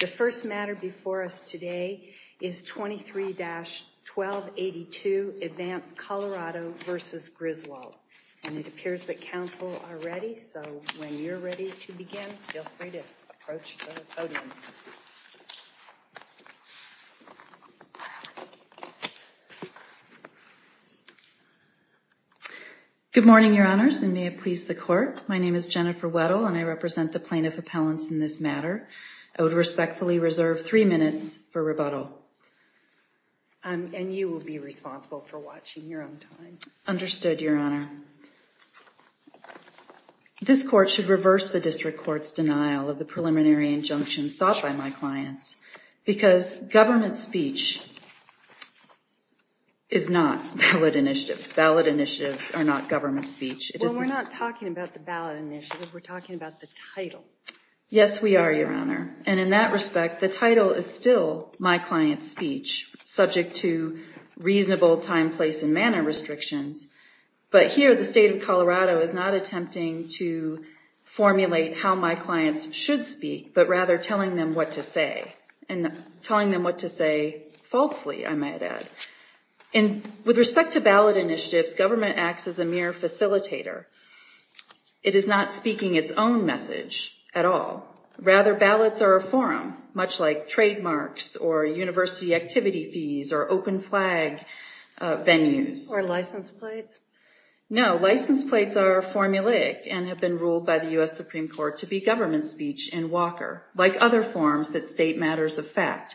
The first matter before us today is 23-1282, Advanced Colorado v. Griswold. And it appears that counsel are ready, so when you're ready to begin, feel free to approach the podium. Good morning, Your Honors, and may it please the Court. My name is Jennifer Weddle, and I represent the Plaintiff Appellants in this matter. I would respectfully reserve three minutes for rebuttal. And you will be responsible for watching your own time. Understood, Your Honor. This Court should reverse the District Court's denial of the preliminary injunction sought by my clients because government speech is not ballot initiatives. Ballot initiatives are not government speech. Well, we're not talking about the ballot initiatives, we're talking about the title. Yes, we are, Your Honor. And in that respect, the title is still my client's speech, subject to reasonable time, place, and manner restrictions. But here, the State of Colorado is not attempting to formulate how my clients should speak, but rather telling them what to say. And telling them what to say falsely, I might add. With respect to ballot initiatives, government acts as a mere facilitator. It is not speaking its own message at all. Rather, ballots are a forum, much like trademarks, or university activity fees, or open flag venues. Or license plates? No, license plates are formulaic and have been ruled by the U.S. Supreme Court to be government speech in Walker, like other forms that state matters of fact,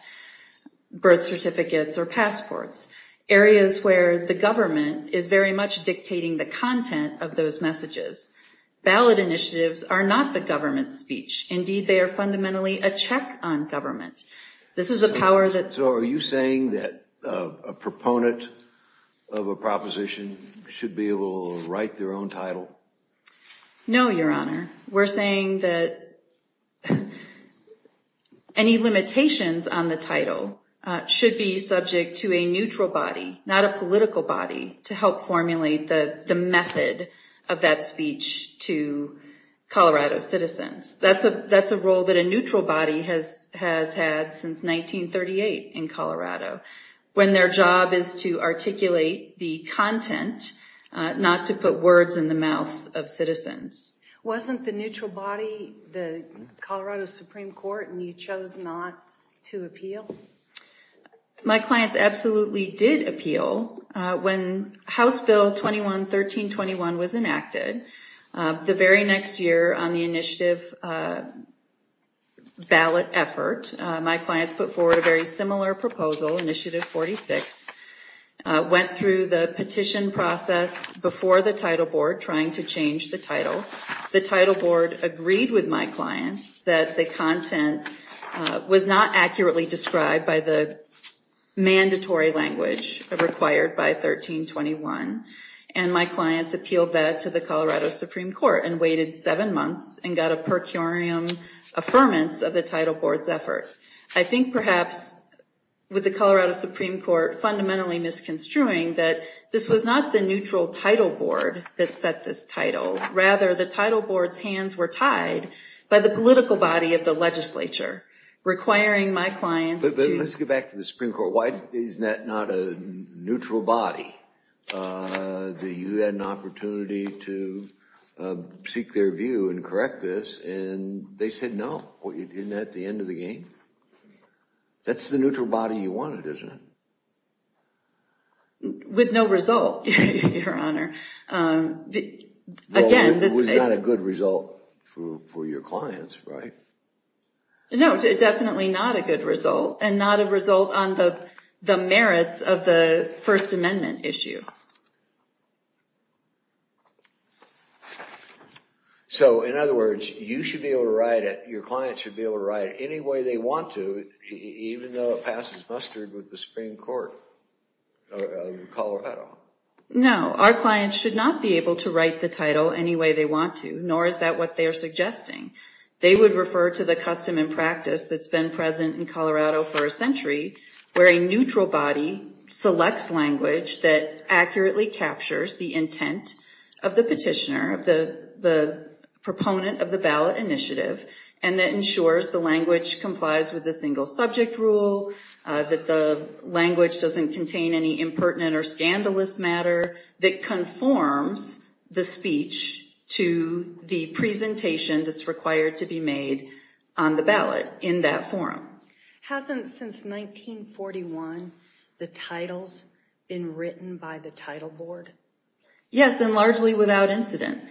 birth certificates or passports, areas where the government is very much dictating the content of those messages. Ballot initiatives are not the government's speech. Indeed, they are fundamentally a check on government. This is a power that... So are you saying that a proponent of a proposition should be able to write their own title? No, Your Honor. We're saying that any limitations on the title should be subject to a neutral body, not a political body, to help formulate the method of that speech to Colorado citizens. That's a role that a neutral body has had since 1938 in Colorado, when their job is to articulate the content, not to put words in the mouths of citizens. Wasn't the neutral body the Colorado Supreme Court, and you chose not to appeal? My clients absolutely did appeal. When House Bill 21-1321 was enacted, the very next year on the initiative ballot effort, my clients put forward a very similar proposal, Initiative 46, went through the petition process before the title board, trying to change the title. The title board agreed with my clients that the content was not accurately described by the mandatory language required by 1321, and my clients appealed that to the Colorado Supreme Court and waited seven months and got a per curiam affirmance of the title board's effort. I think perhaps with the Colorado Supreme Court fundamentally misconstruing that this was not the neutral title board that set this title. Rather, the title board's hands were tied by the political body of the legislature, requiring my clients to... But let's get back to the Supreme Court. Why is that not a neutral body? You had an opportunity to seek their view and correct this, and they said no. Isn't that the end of the game? That's the neutral body you wanted, isn't it? With no result, Your Honor. Well, it was not a good result for your clients, right? No, definitely not a good result, and not a result on the merits of the First Amendment issue. So, in other words, you should be able to write it... Your clients should be able to write it any way they want to, even though it passes mustard with the Supreme Court of Colorado. No, our clients should not be able to write the title any way they want to, nor is that what they are suggesting. They would refer to the custom and practice that's been present in Colorado for a century, that accurately captures the intent of the petitioner, the proponent of the ballot initiative, and that ensures the language complies with the single subject rule, that the language doesn't contain any impertinent or scandalous matter, that conforms the speech to the presentation that's required to be made on the ballot in that forum. Hasn't, since 1941, the titles been written by the title board? Yes, and largely without incident.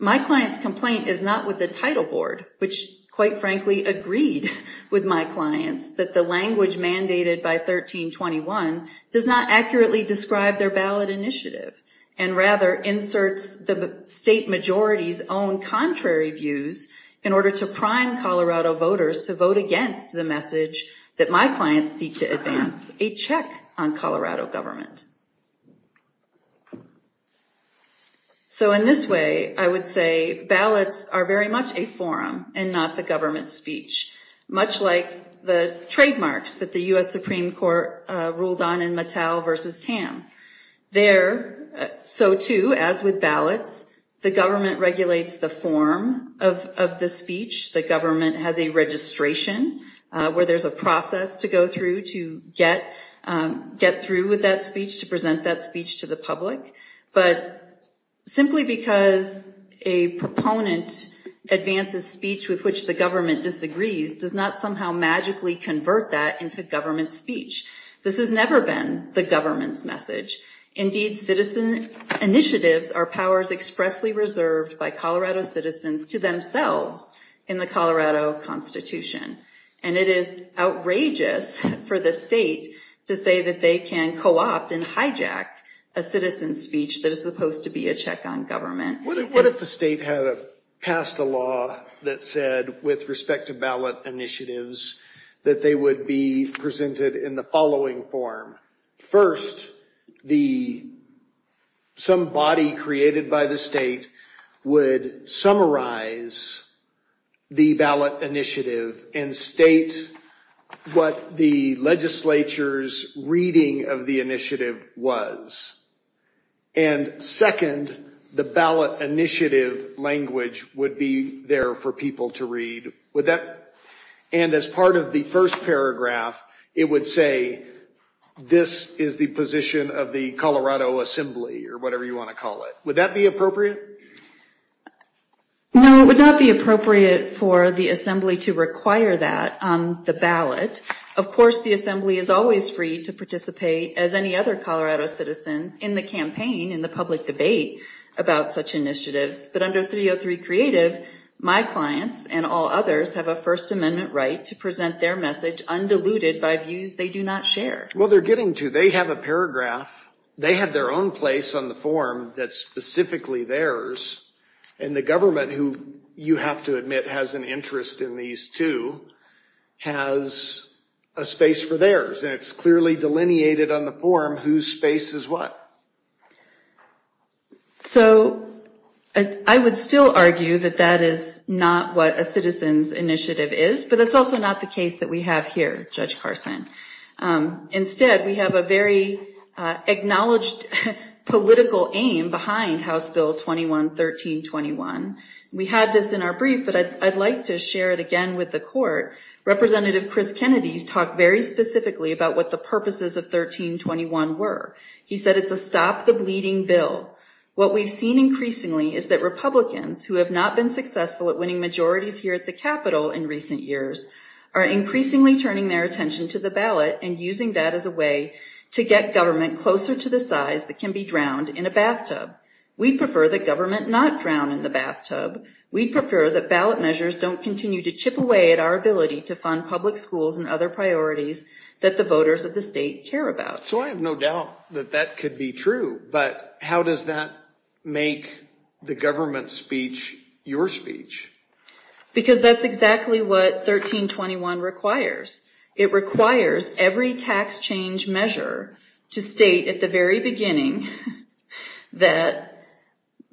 My client's complaint is not with the title board, which, quite frankly, agreed with my clients that the language mandated by 1321 does not accurately describe their ballot initiative, and rather inserts the state majority's own contrary views in order to prime Colorado voters to vote against the message that my clients seek to advance, a check on Colorado government. So in this way, I would say, ballots are very much a forum, and not the government's speech. Much like the trademarks that the U.S. Supreme Court ruled on in Mattel v. Tam. There, so too, as with ballots, the government regulates the form of the speech. The government has a registration, where there's a process to go through to get through with that speech, to present that speech to the public. But simply because a proponent advances speech with which the government disagrees, does not somehow magically convert that into government speech. This has never been the government's message. Indeed, citizen initiatives are powers expressly reserved by Colorado citizens to themselves in the Colorado Constitution. And it is outrageous for the state to say that they can co-opt and hijack a citizen's speech that is supposed to be a check on government. What if the state had passed a law that said, with respect to ballot initiatives, that they would be presented in the following form. First, some body created by the state would summarize the ballot initiative and state what the legislature's reading of the initiative was. And second, the ballot initiative language would be there for people to read. And as part of the first paragraph, it would say, this is the position of the Colorado Assembly, or whatever you want to call it. Would that be appropriate? No, it would not be appropriate for the Assembly to require that on the ballot. Of course, the Assembly is always free to participate, as any other Colorado citizens, in the campaign, in the public debate about such initiatives. But under 303 Creative, my clients and all others have a First Amendment right to present their message undiluted by views they do not share. Well, they're getting to. They have a paragraph. They have their own place on the form that's specifically theirs. And the government, who you have to admit has an interest in these two, has a space for theirs. And it's clearly delineated on the form whose space is what. So, I would still argue that that is not what a citizen's initiative is. But that's also not the case that we have here, Judge Carson. Instead, we have a very acknowledged political aim behind House Bill 21-1321. We had this in our brief, but I'd like to share it again with the Court. Representative Chris Kennedy talked very specifically about what the purposes of 1321 were. He said it's a stop-the-bleeding bill. What we've seen increasingly is that Republicans, who have not been successful at winning majorities here at the Capitol in recent years, are increasingly turning their attention to the ballot and using that as a way to get government closer to the size that can be drowned in a bathtub. We'd prefer that government not drown in the bathtub. We'd prefer that ballot measures don't continue to chip away at our ability to fund public schools and other priorities that the voters of the state care about. So, I have no doubt that that could be true. But how does that make the government's speech your speech? Because that's exactly what 1321 requires. It requires every tax change measure to state at the very beginning that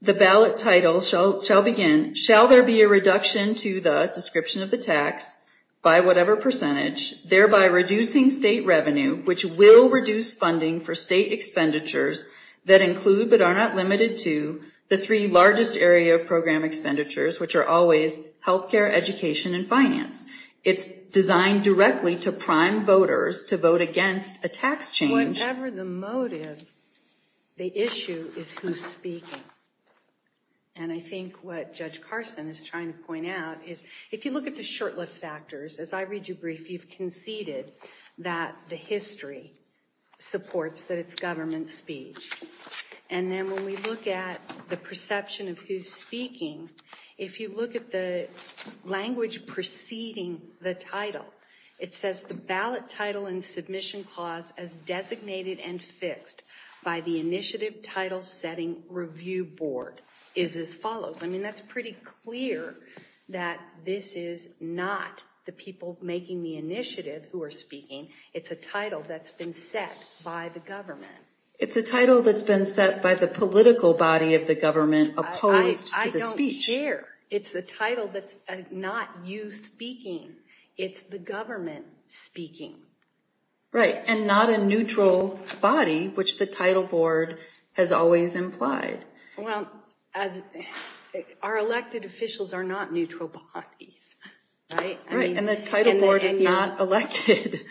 the ballot title shall begin, shall there be a reduction to the description of the tax by whatever percentage, thereby reducing state revenue, which will reduce funding for state expenditures that include but are not limited to the three largest area of program expenditures, which are always health care, education, and finance. It's designed directly to prime voters to vote against a tax change. Whatever the motive, the issue is who's speaking. And I think what Judge Carson is trying to point out is if you look at the short-lived factors, as I read your brief, you've conceded that the history supports that it's government speech. And then when we look at the perception of who's speaking, if you look at the language preceding the title, it says the ballot title and submission clause as designated and fixed by the initiative title setting review board is as follows. I mean, that's pretty clear that this is not the people making the initiative who are speaking. It's a title that's been set by the government. It's a title that's been set by the political body of the government opposed to the speech. I don't care. It's the title that's not you speaking. It's the government speaking. Right, and not a neutral body, which the title board has always implied. Well, our elected officials are not neutral bodies, right? Right, and the title board is not elected.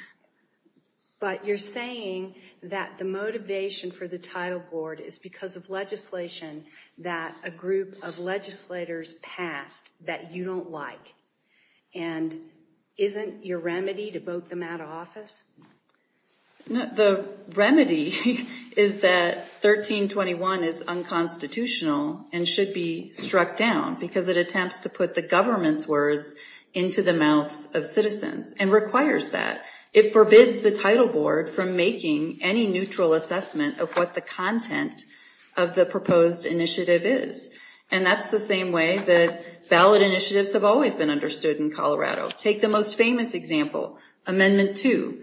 But you're saying that the motivation for the title board is because of legislation that a group of legislators passed that you don't like. And isn't your remedy to vote them out of office? The remedy is that 1321 is unconstitutional and should be struck down because it attempts to put the government's words into the mouths of citizens and requires that. It forbids the title board from making any neutral assessment of what the content of the proposed initiative is. And that's the same way that ballot initiatives have always been understood in Colorado. Take the most famous example, Amendment 2.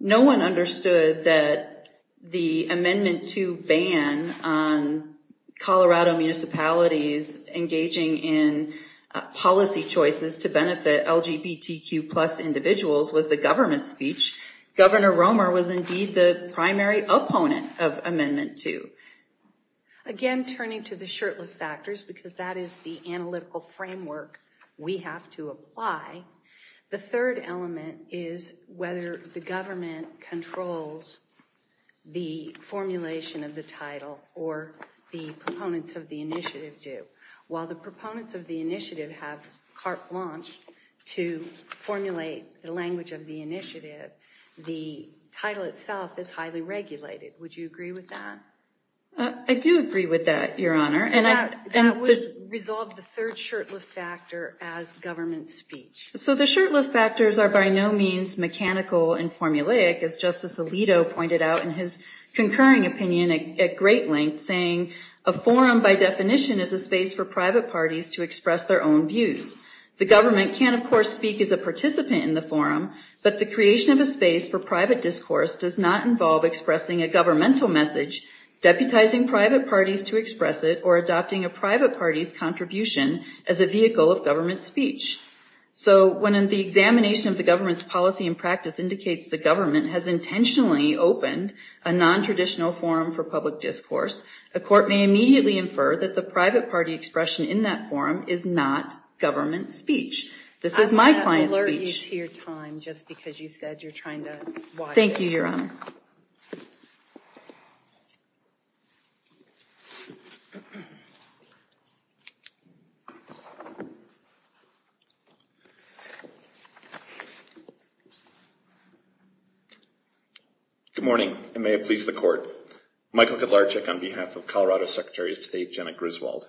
No one understood that the Amendment 2 ban on Colorado municipalities engaging in policy choices to benefit LGBTQ plus individuals was the government's speech. Governor Romer was indeed the primary opponent of Amendment 2. Again, turning to the shirtlift factors, because that is the analytical framework we have to apply, the third element is whether the government controls the formulation of the title or the proponents of the initiative do. While the proponents of the initiative have carte blanche to formulate the language of the initiative, the title itself is highly regulated. Would you agree with that? I do agree with that, Your Honor. So that would resolve the third shirtlift factor as government speech. So the shirtlift factors are by no means mechanical and formulaic, as Justice Alito pointed out in his concurring opinion at great length, saying a forum by definition is a space for private parties to express their own views. The government can, of course, speak as a participant in the forum, but the creation of a space for private discourse does not involve expressing a governmental message, deputizing private parties to express it, or adopting a private party's contribution as a vehicle of government speech. So when the examination of the government's policy and practice indicates the government has intentionally opened a nontraditional forum for public discourse, a court may immediately infer that the private party expression in that forum is not government speech. This is my client's speech. I'm going to alert you to your time just because you said you're trying to watch it. Thank you, Your Honor. Good morning, and may it please the Court. Michael Kudlarczyk on behalf of Colorado Secretary of State Janet Griswold.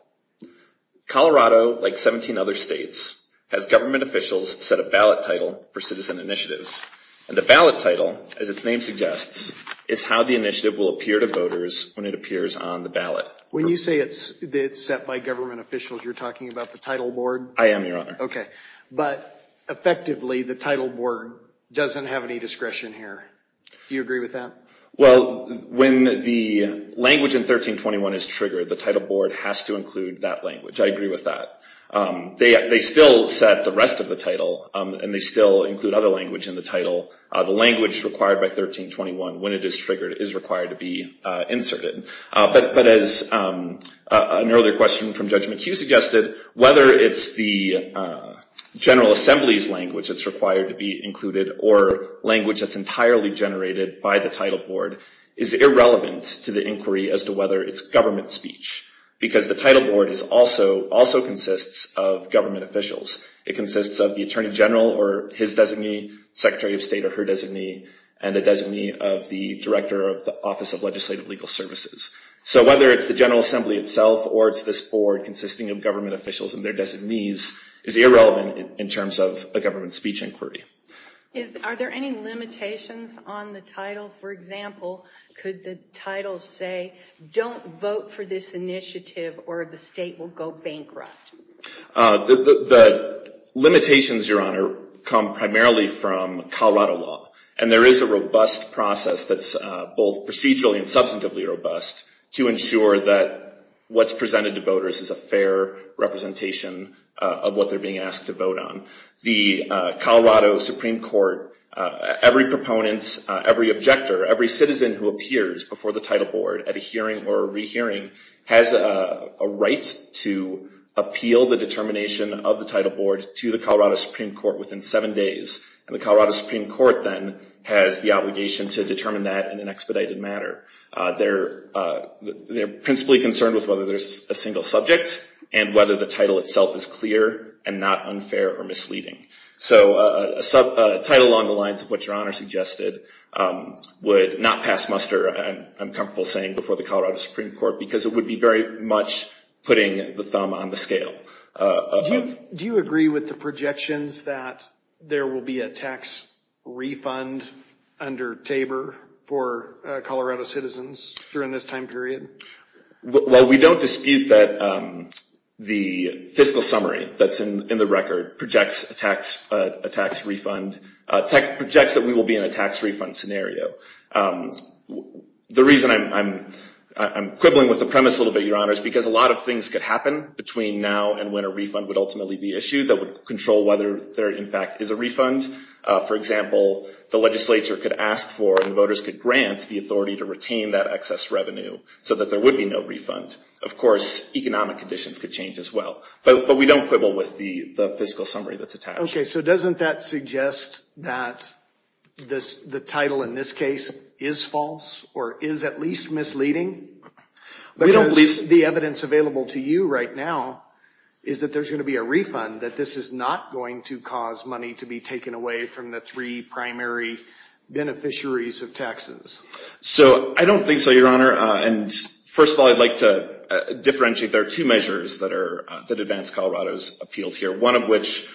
Colorado, like 17 other states, has government officials set a ballot title for citizen initiatives. And the ballot title, as its name suggests, is how the initiative will appear to voters when it appears on the ballot. When you say it's set by government officials, you're talking about the title board? I am, Your Honor. Okay. But effectively, the title board doesn't have any discretion here. Do you agree with that? Well, when the language in 1321 is triggered, the title board has to include that language. I agree with that. They still set the rest of the title, and they still include other language in the title. The language required by 1321, when it is triggered, is required to be inserted. But as an earlier question from Judge McHugh suggested, whether it's the General Assembly's language that's required to be included or language that's entirely generated by the title board is irrelevant to the inquiry as to whether it's government speech. Because the title board also consists of government officials. It consists of the Attorney General or his designee, Secretary of State or her designee, and a designee of the Director of the Office of Legislative Legal Services. So whether it's the General Assembly itself or it's this board consisting of government officials and their designees is irrelevant in terms of a government speech inquiry. Are there any limitations on the title? For example, could the title say, don't vote for this initiative or the state will go bankrupt? The limitations, Your Honor, come primarily from Colorado law. And there is a robust process that's both procedurally and substantively robust to ensure that what's presented to voters is a fair representation of what they're being asked to vote on. The Colorado Supreme Court, every proponent, every objector, every citizen who appears before the title board at a hearing or a rehearing has a right to appeal the determination of the title board to the Colorado Supreme Court within seven days. And the Colorado Supreme Court then has the obligation to determine that in an expedited manner. They're principally concerned with whether there's a single subject and whether the title itself is clear and not unfair or misleading. So a title along the lines of what Your Honor suggested would not pass muster, I'm comfortable saying, before the Colorado Supreme Court because it would be very much putting the thumb on the scale. Do you agree with the projections that there will be a tax refund under TABOR for Colorado citizens during this time period? Well, we don't dispute that the fiscal summary that's in the record projects a tax refund, projects that we will be in a tax refund scenario. The reason I'm quibbling with the premise a little bit, Your Honor, is because a lot of things could happen between now and when a refund would ultimately be issued that would control whether there in fact is a refund. For example, the legislature could ask for and voters could grant the authority to retain that excess revenue so that there would be no refund. Of course, economic conditions could change as well. But we don't quibble with the fiscal summary that's attached. Okay, so doesn't that suggest that the title in this case is false or is at least misleading? The evidence available to you right now is that there's going to be a refund, that this is not going to cause money to be taken away from the three primary beneficiaries of taxes. So I don't think so, Your Honor. And first of all, I'd like to differentiate. There are two measures that advance Colorado's appeals here, one of which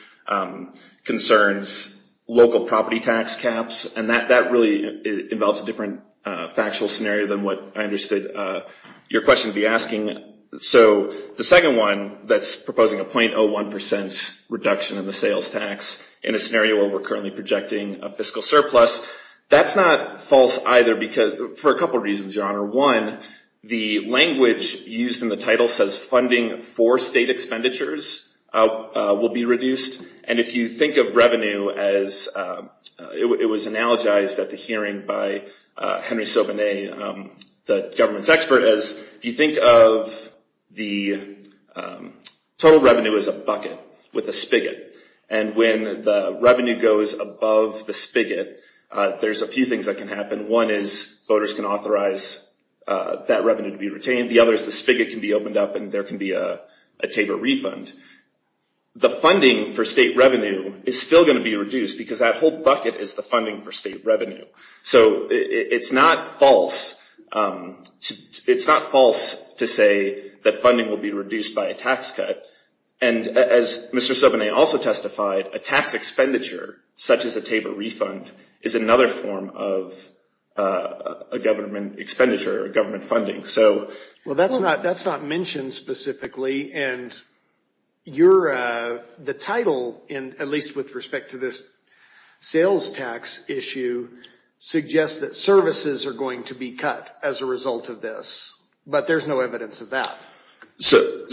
concerns local property tax caps. And that really involves a different factual scenario than what I understood your question to be asking. So the second one that's proposing a 0.01% reduction in the sales tax in a scenario where we're currently projecting a fiscal surplus, that's not false either for a couple of reasons, Your Honor. One, the language used in the title says funding for state expenditures will be reduced. And if you think of revenue as it was analogized at the hearing by Henry Sauvignon, the government's expert, as you think of the total revenue as a bucket with a spigot. And when the revenue goes above the spigot, there's a few things that can happen. One is voters can authorize that revenue to be retained. The other is the spigot can be opened up and there can be a taper refund. The funding for state revenue is still going to be reduced because that whole bucket is the funding for state revenue. So it's not false to say that funding will be reduced by a tax cut. And as Mr. Sauvignon also testified, a tax expenditure, such as a taper refund, is another form of a government expenditure or government funding. Well, that's not mentioned specifically. And the title, at least with respect to this sales tax issue, suggests that services are going to be cut as a result of this. But there's no evidence of that. So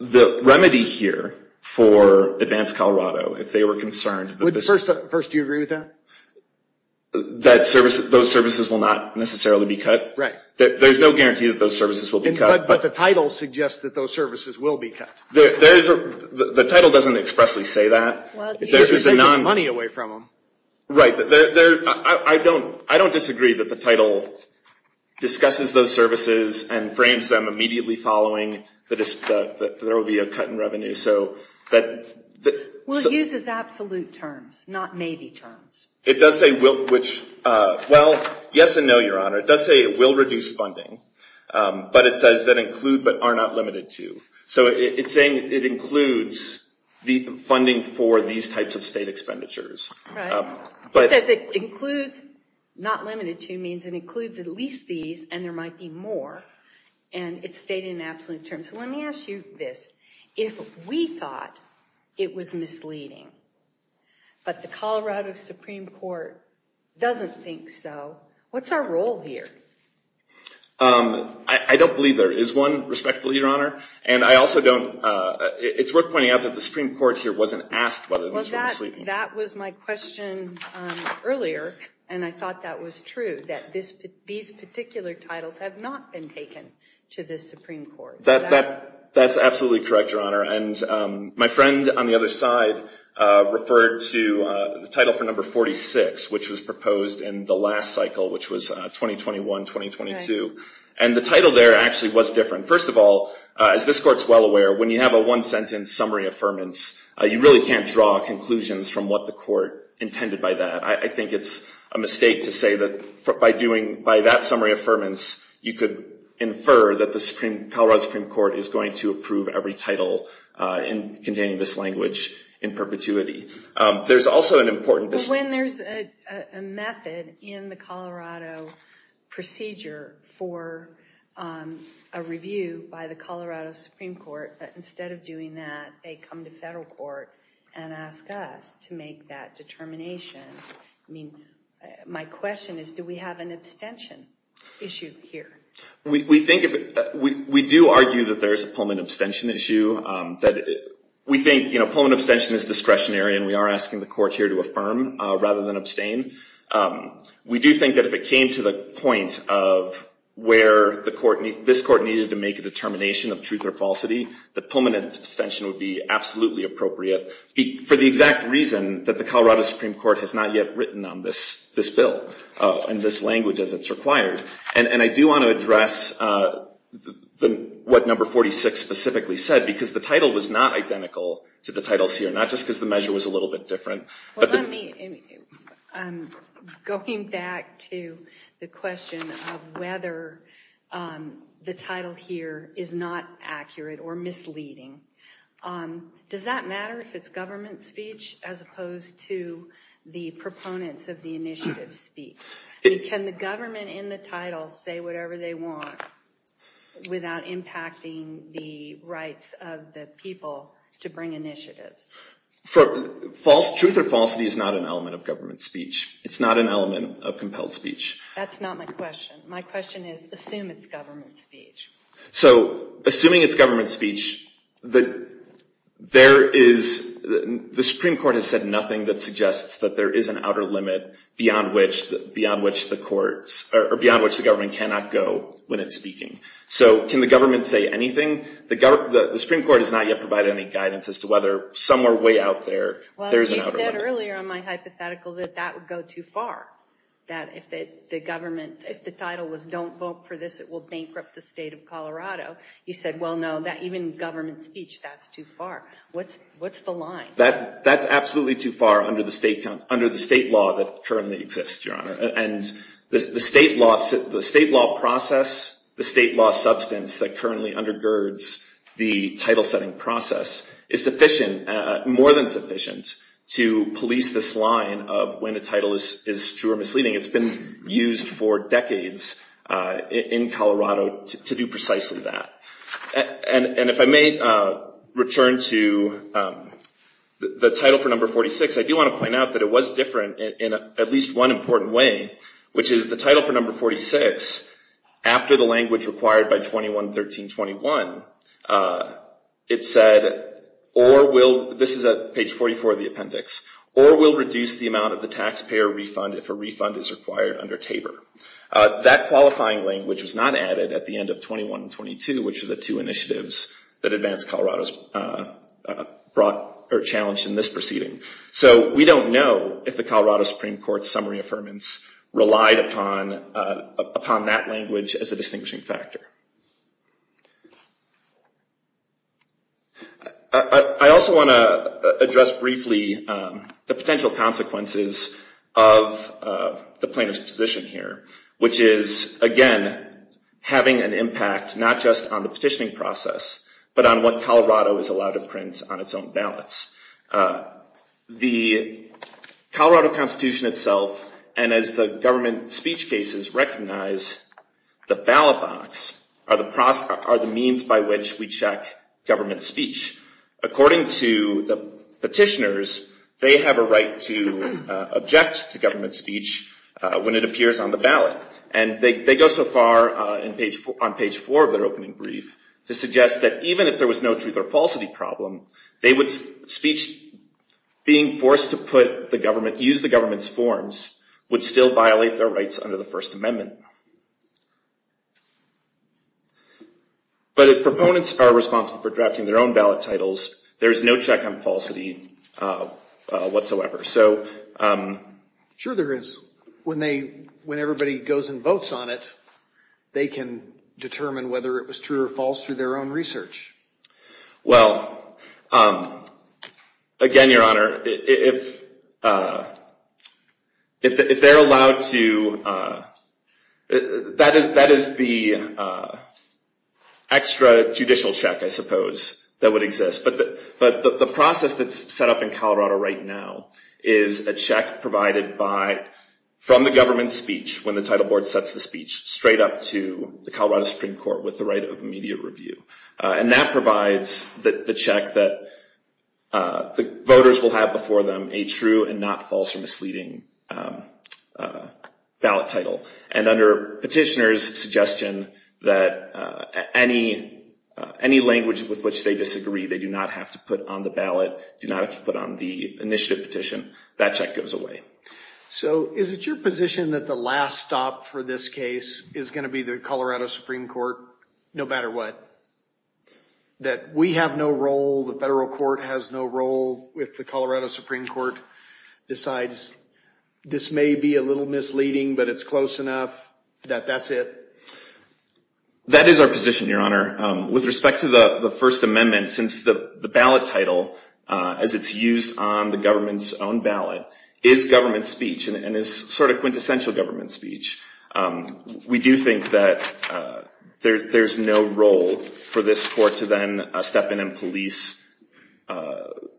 the remedy here for Advanced Colorado, if they were concerned... First, do you agree with that? That those services will not necessarily be cut? Right. There's no guarantee that those services will be cut. But the title suggests that those services will be cut. The title doesn't expressly say that. It's just taking the money away from them. Right. I don't disagree that the title discusses those services and frames them immediately following that there will be a cut in revenue. Well, it uses absolute terms, not maybe terms. It does say, well, yes and no, Your Honor. It does say it will reduce funding. But it says that include but are not limited to. So it's saying it includes the funding for these types of state expenditures. Right. It says it includes not limited to means it includes at least these and there might be more. And it's stated in absolute terms. So let me ask you this. If we thought it was misleading, but the Colorado Supreme Court doesn't think so, what's our role here? I don't believe there is one, respectfully, Your Honor. And I also don't... It's worth pointing out that the Supreme Court here wasn't asked whether this was misleading. That was my question earlier. And I thought that was true, that these particular titles have not been taken to the Supreme Court. That's absolutely correct, Your Honor. And my friend on the other side referred to the title for number 46, which was proposed in the last cycle, which was 2021-2022. And the title there actually was different. First of all, as this Court is well aware, when you have a one-sentence summary affirmance, you really can't draw conclusions from what the Court intended by that. I think it's a mistake to say that by doing... By that summary affirmance, you could infer that the Colorado Supreme Court is going to approve every title containing this language in perpetuity. There's also an important... When there's a method in the Colorado procedure for a review by the Colorado Supreme Court, instead of doing that, they come to federal court and ask us to make that determination. My question is, do we have an abstention issue here? We do argue that there is a Pullman abstention issue. We think Pullman abstention is discretionary, and we are asking the Court here to affirm rather than abstain. We do think that if it came to the point of where this Court needed to make a determination of truth or falsity, that Pullman abstention would be absolutely appropriate, for the exact reason that the Colorado Supreme Court has not yet written on this bill and this language as it's required. And I do want to address what number 46 specifically said, because the title was not identical to the titles here, not just because the measure was a little bit different. Going back to the question of whether the title here is not accurate or misleading, does that matter if it's government speech as opposed to the proponents of the initiative's speech? Can the government in the title say whatever they want without impacting the rights of the people to bring initiatives? Truth or falsity is not an element of government speech. It's not an element of compelled speech. That's not my question. My question is, assume it's government speech. So, assuming it's government speech, the Supreme Court has said nothing that suggests that there is an outer limit beyond which the government cannot go when it's speaking. So, can the government say anything? The Supreme Court has not yet provided any guidance as to whether somewhere way out there, there's an outer limit. Well, you said earlier on my hypothetical that that would go too far, that if the government, if the title was don't vote for this, it will bankrupt the state of Colorado. You said, well, no, even government speech, that's too far. What's the line? The state law process, the state law substance that currently undergirds the title setting process, is sufficient, more than sufficient, to police this line of when a title is true or misleading. It's been used for decades in Colorado to do precisely that. And if I may return to the title for number 46, I do want to point out that it was different in at least one important way, which is the title for number 46, after the language required by 21-13-21, it said, or will, this is at page 44 of the appendix, or will reduce the amount of the taxpayer refund if a refund is required under TABOR. That qualifying language was not added at the end of 21-22, which are the two initiatives that Advanced Colorado challenged in this proceeding. So we don't know if the Colorado Supreme Court's summary affirmance relied upon that language as a distinguishing factor. I also want to address briefly the potential consequences of the plaintiff's position here, which is, again, having an impact not just on the petitioning process, but on what Colorado is allowed to print on its own ballots. The Colorado Constitution itself, and as the government speech cases recognize, the ballot box are the means by which we check government speech. According to the petitioners, they have a right to object to government speech when it appears on the ballot. And they go so far, on page four of their opening brief, to suggest that even if there was no truth or falsity problem, speech being forced to use the government's forms would still violate their rights under the First Amendment. But if proponents are responsible for drafting their own ballot titles, there is no check on falsity whatsoever. Sure there is. When everybody goes and votes on it, they can determine whether it was true or false through their own research. Well, again, Your Honor, if they're allowed to, that is the extra judicial check, I suppose, that would exist. But the process that's set up in Colorado right now is a check provided from the government speech, when the title board sets the speech, straight up to the Colorado Supreme Court with the right of immediate review. And that provides the check that the voters will have before them a true and not false or misleading ballot title. And under petitioners' suggestion that any language with which they disagree, they do not have to put on the ballot, do not have to put on the initiative petition, that check goes away. So is it your position that the last stop for this case is going to be the Colorado Supreme Court, no matter what? That we have no role, the federal court has no role, if the Colorado Supreme Court decides this may be a little misleading, but it's close enough, that that's it? That is our position, Your Honor. With respect to the First Amendment, since the ballot title, as it's used on the government's own ballot, is government speech and is sort of quintessential government speech, we do think that there's no role for this court to then step in and police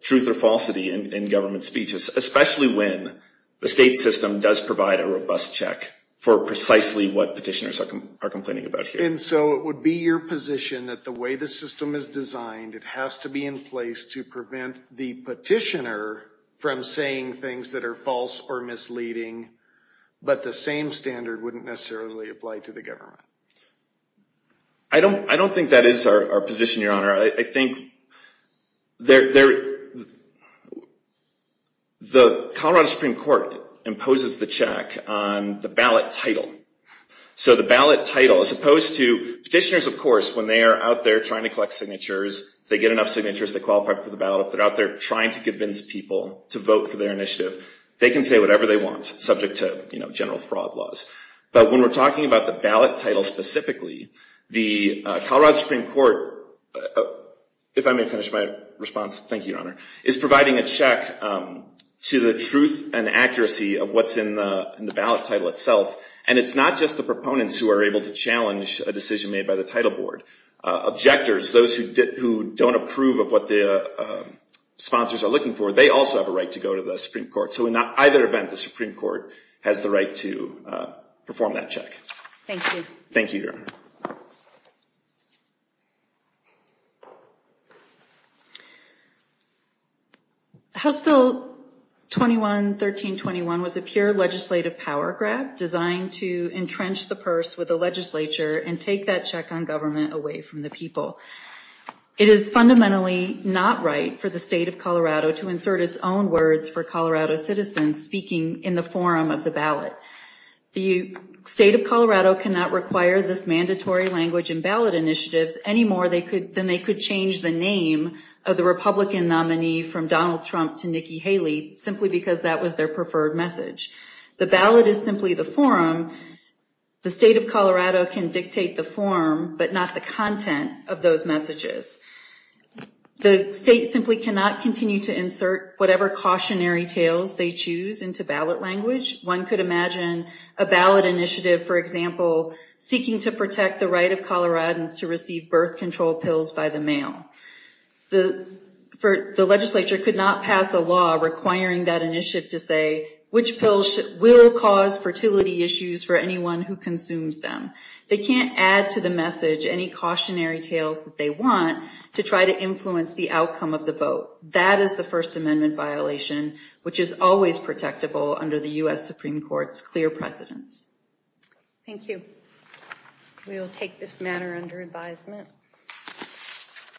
truth or falsity in government speech, especially when the state system does provide a robust check for precisely what petitioners are complaining about here. And so it would be your position that the way the system is designed, it has to be in place to prevent the petitioner from saying things that are false or misleading, but the same standard wouldn't necessarily apply to the government? I don't think that is our position, Your Honor. I think the Colorado Supreme Court imposes the check on the ballot title. So the ballot title, as opposed to petitioners, of course, when they are out there trying to collect signatures, if they get enough signatures, they qualify for the ballot. If they're out there trying to convince people to vote for their initiative, they can say whatever they want, subject to general fraud laws. But when we're talking about the ballot title specifically, the Colorado Supreme Court, if I may finish my response, thank you, Your Honor, is providing a check to the truth and accuracy of what's in the ballot title itself. And it's not just the proponents who are able to challenge a decision made by the title board. Objectors, those who don't approve of what the sponsors are looking for, they also have a right to go to the Supreme Court. So in either event, the Supreme Court has the right to perform that check. Thank you. Thank you, Your Honor. Thank you. House Bill 21-1321 was a pure legislative power grab designed to entrench the purse with the legislature and take that check on government away from the people. It is fundamentally not right for the state of Colorado to insert its own words for Colorado citizens speaking in the forum of the ballot. The state of Colorado cannot require this mandatory language in ballot initiatives anymore than they could change the name of the Republican nominee from Donald Trump to Nikki Haley, simply because that was their preferred message. The ballot is simply the forum. The state of Colorado can dictate the forum, but not the content of those messages. The state simply cannot continue to insert whatever cautionary tales they choose into ballot language. One could imagine a ballot initiative, for example, seeking to protect the right of Coloradans to receive birth control pills by the mail. The legislature could not pass a law requiring that initiative to say which pills will cause fertility issues for anyone who consumes them. They can't add to the message any cautionary tales that they want to try to influence the outcome of the vote. That is the First Amendment violation, which is always protectable under the U.S. Supreme Court's clear precedence. Thank you. We will take this matter under advisement.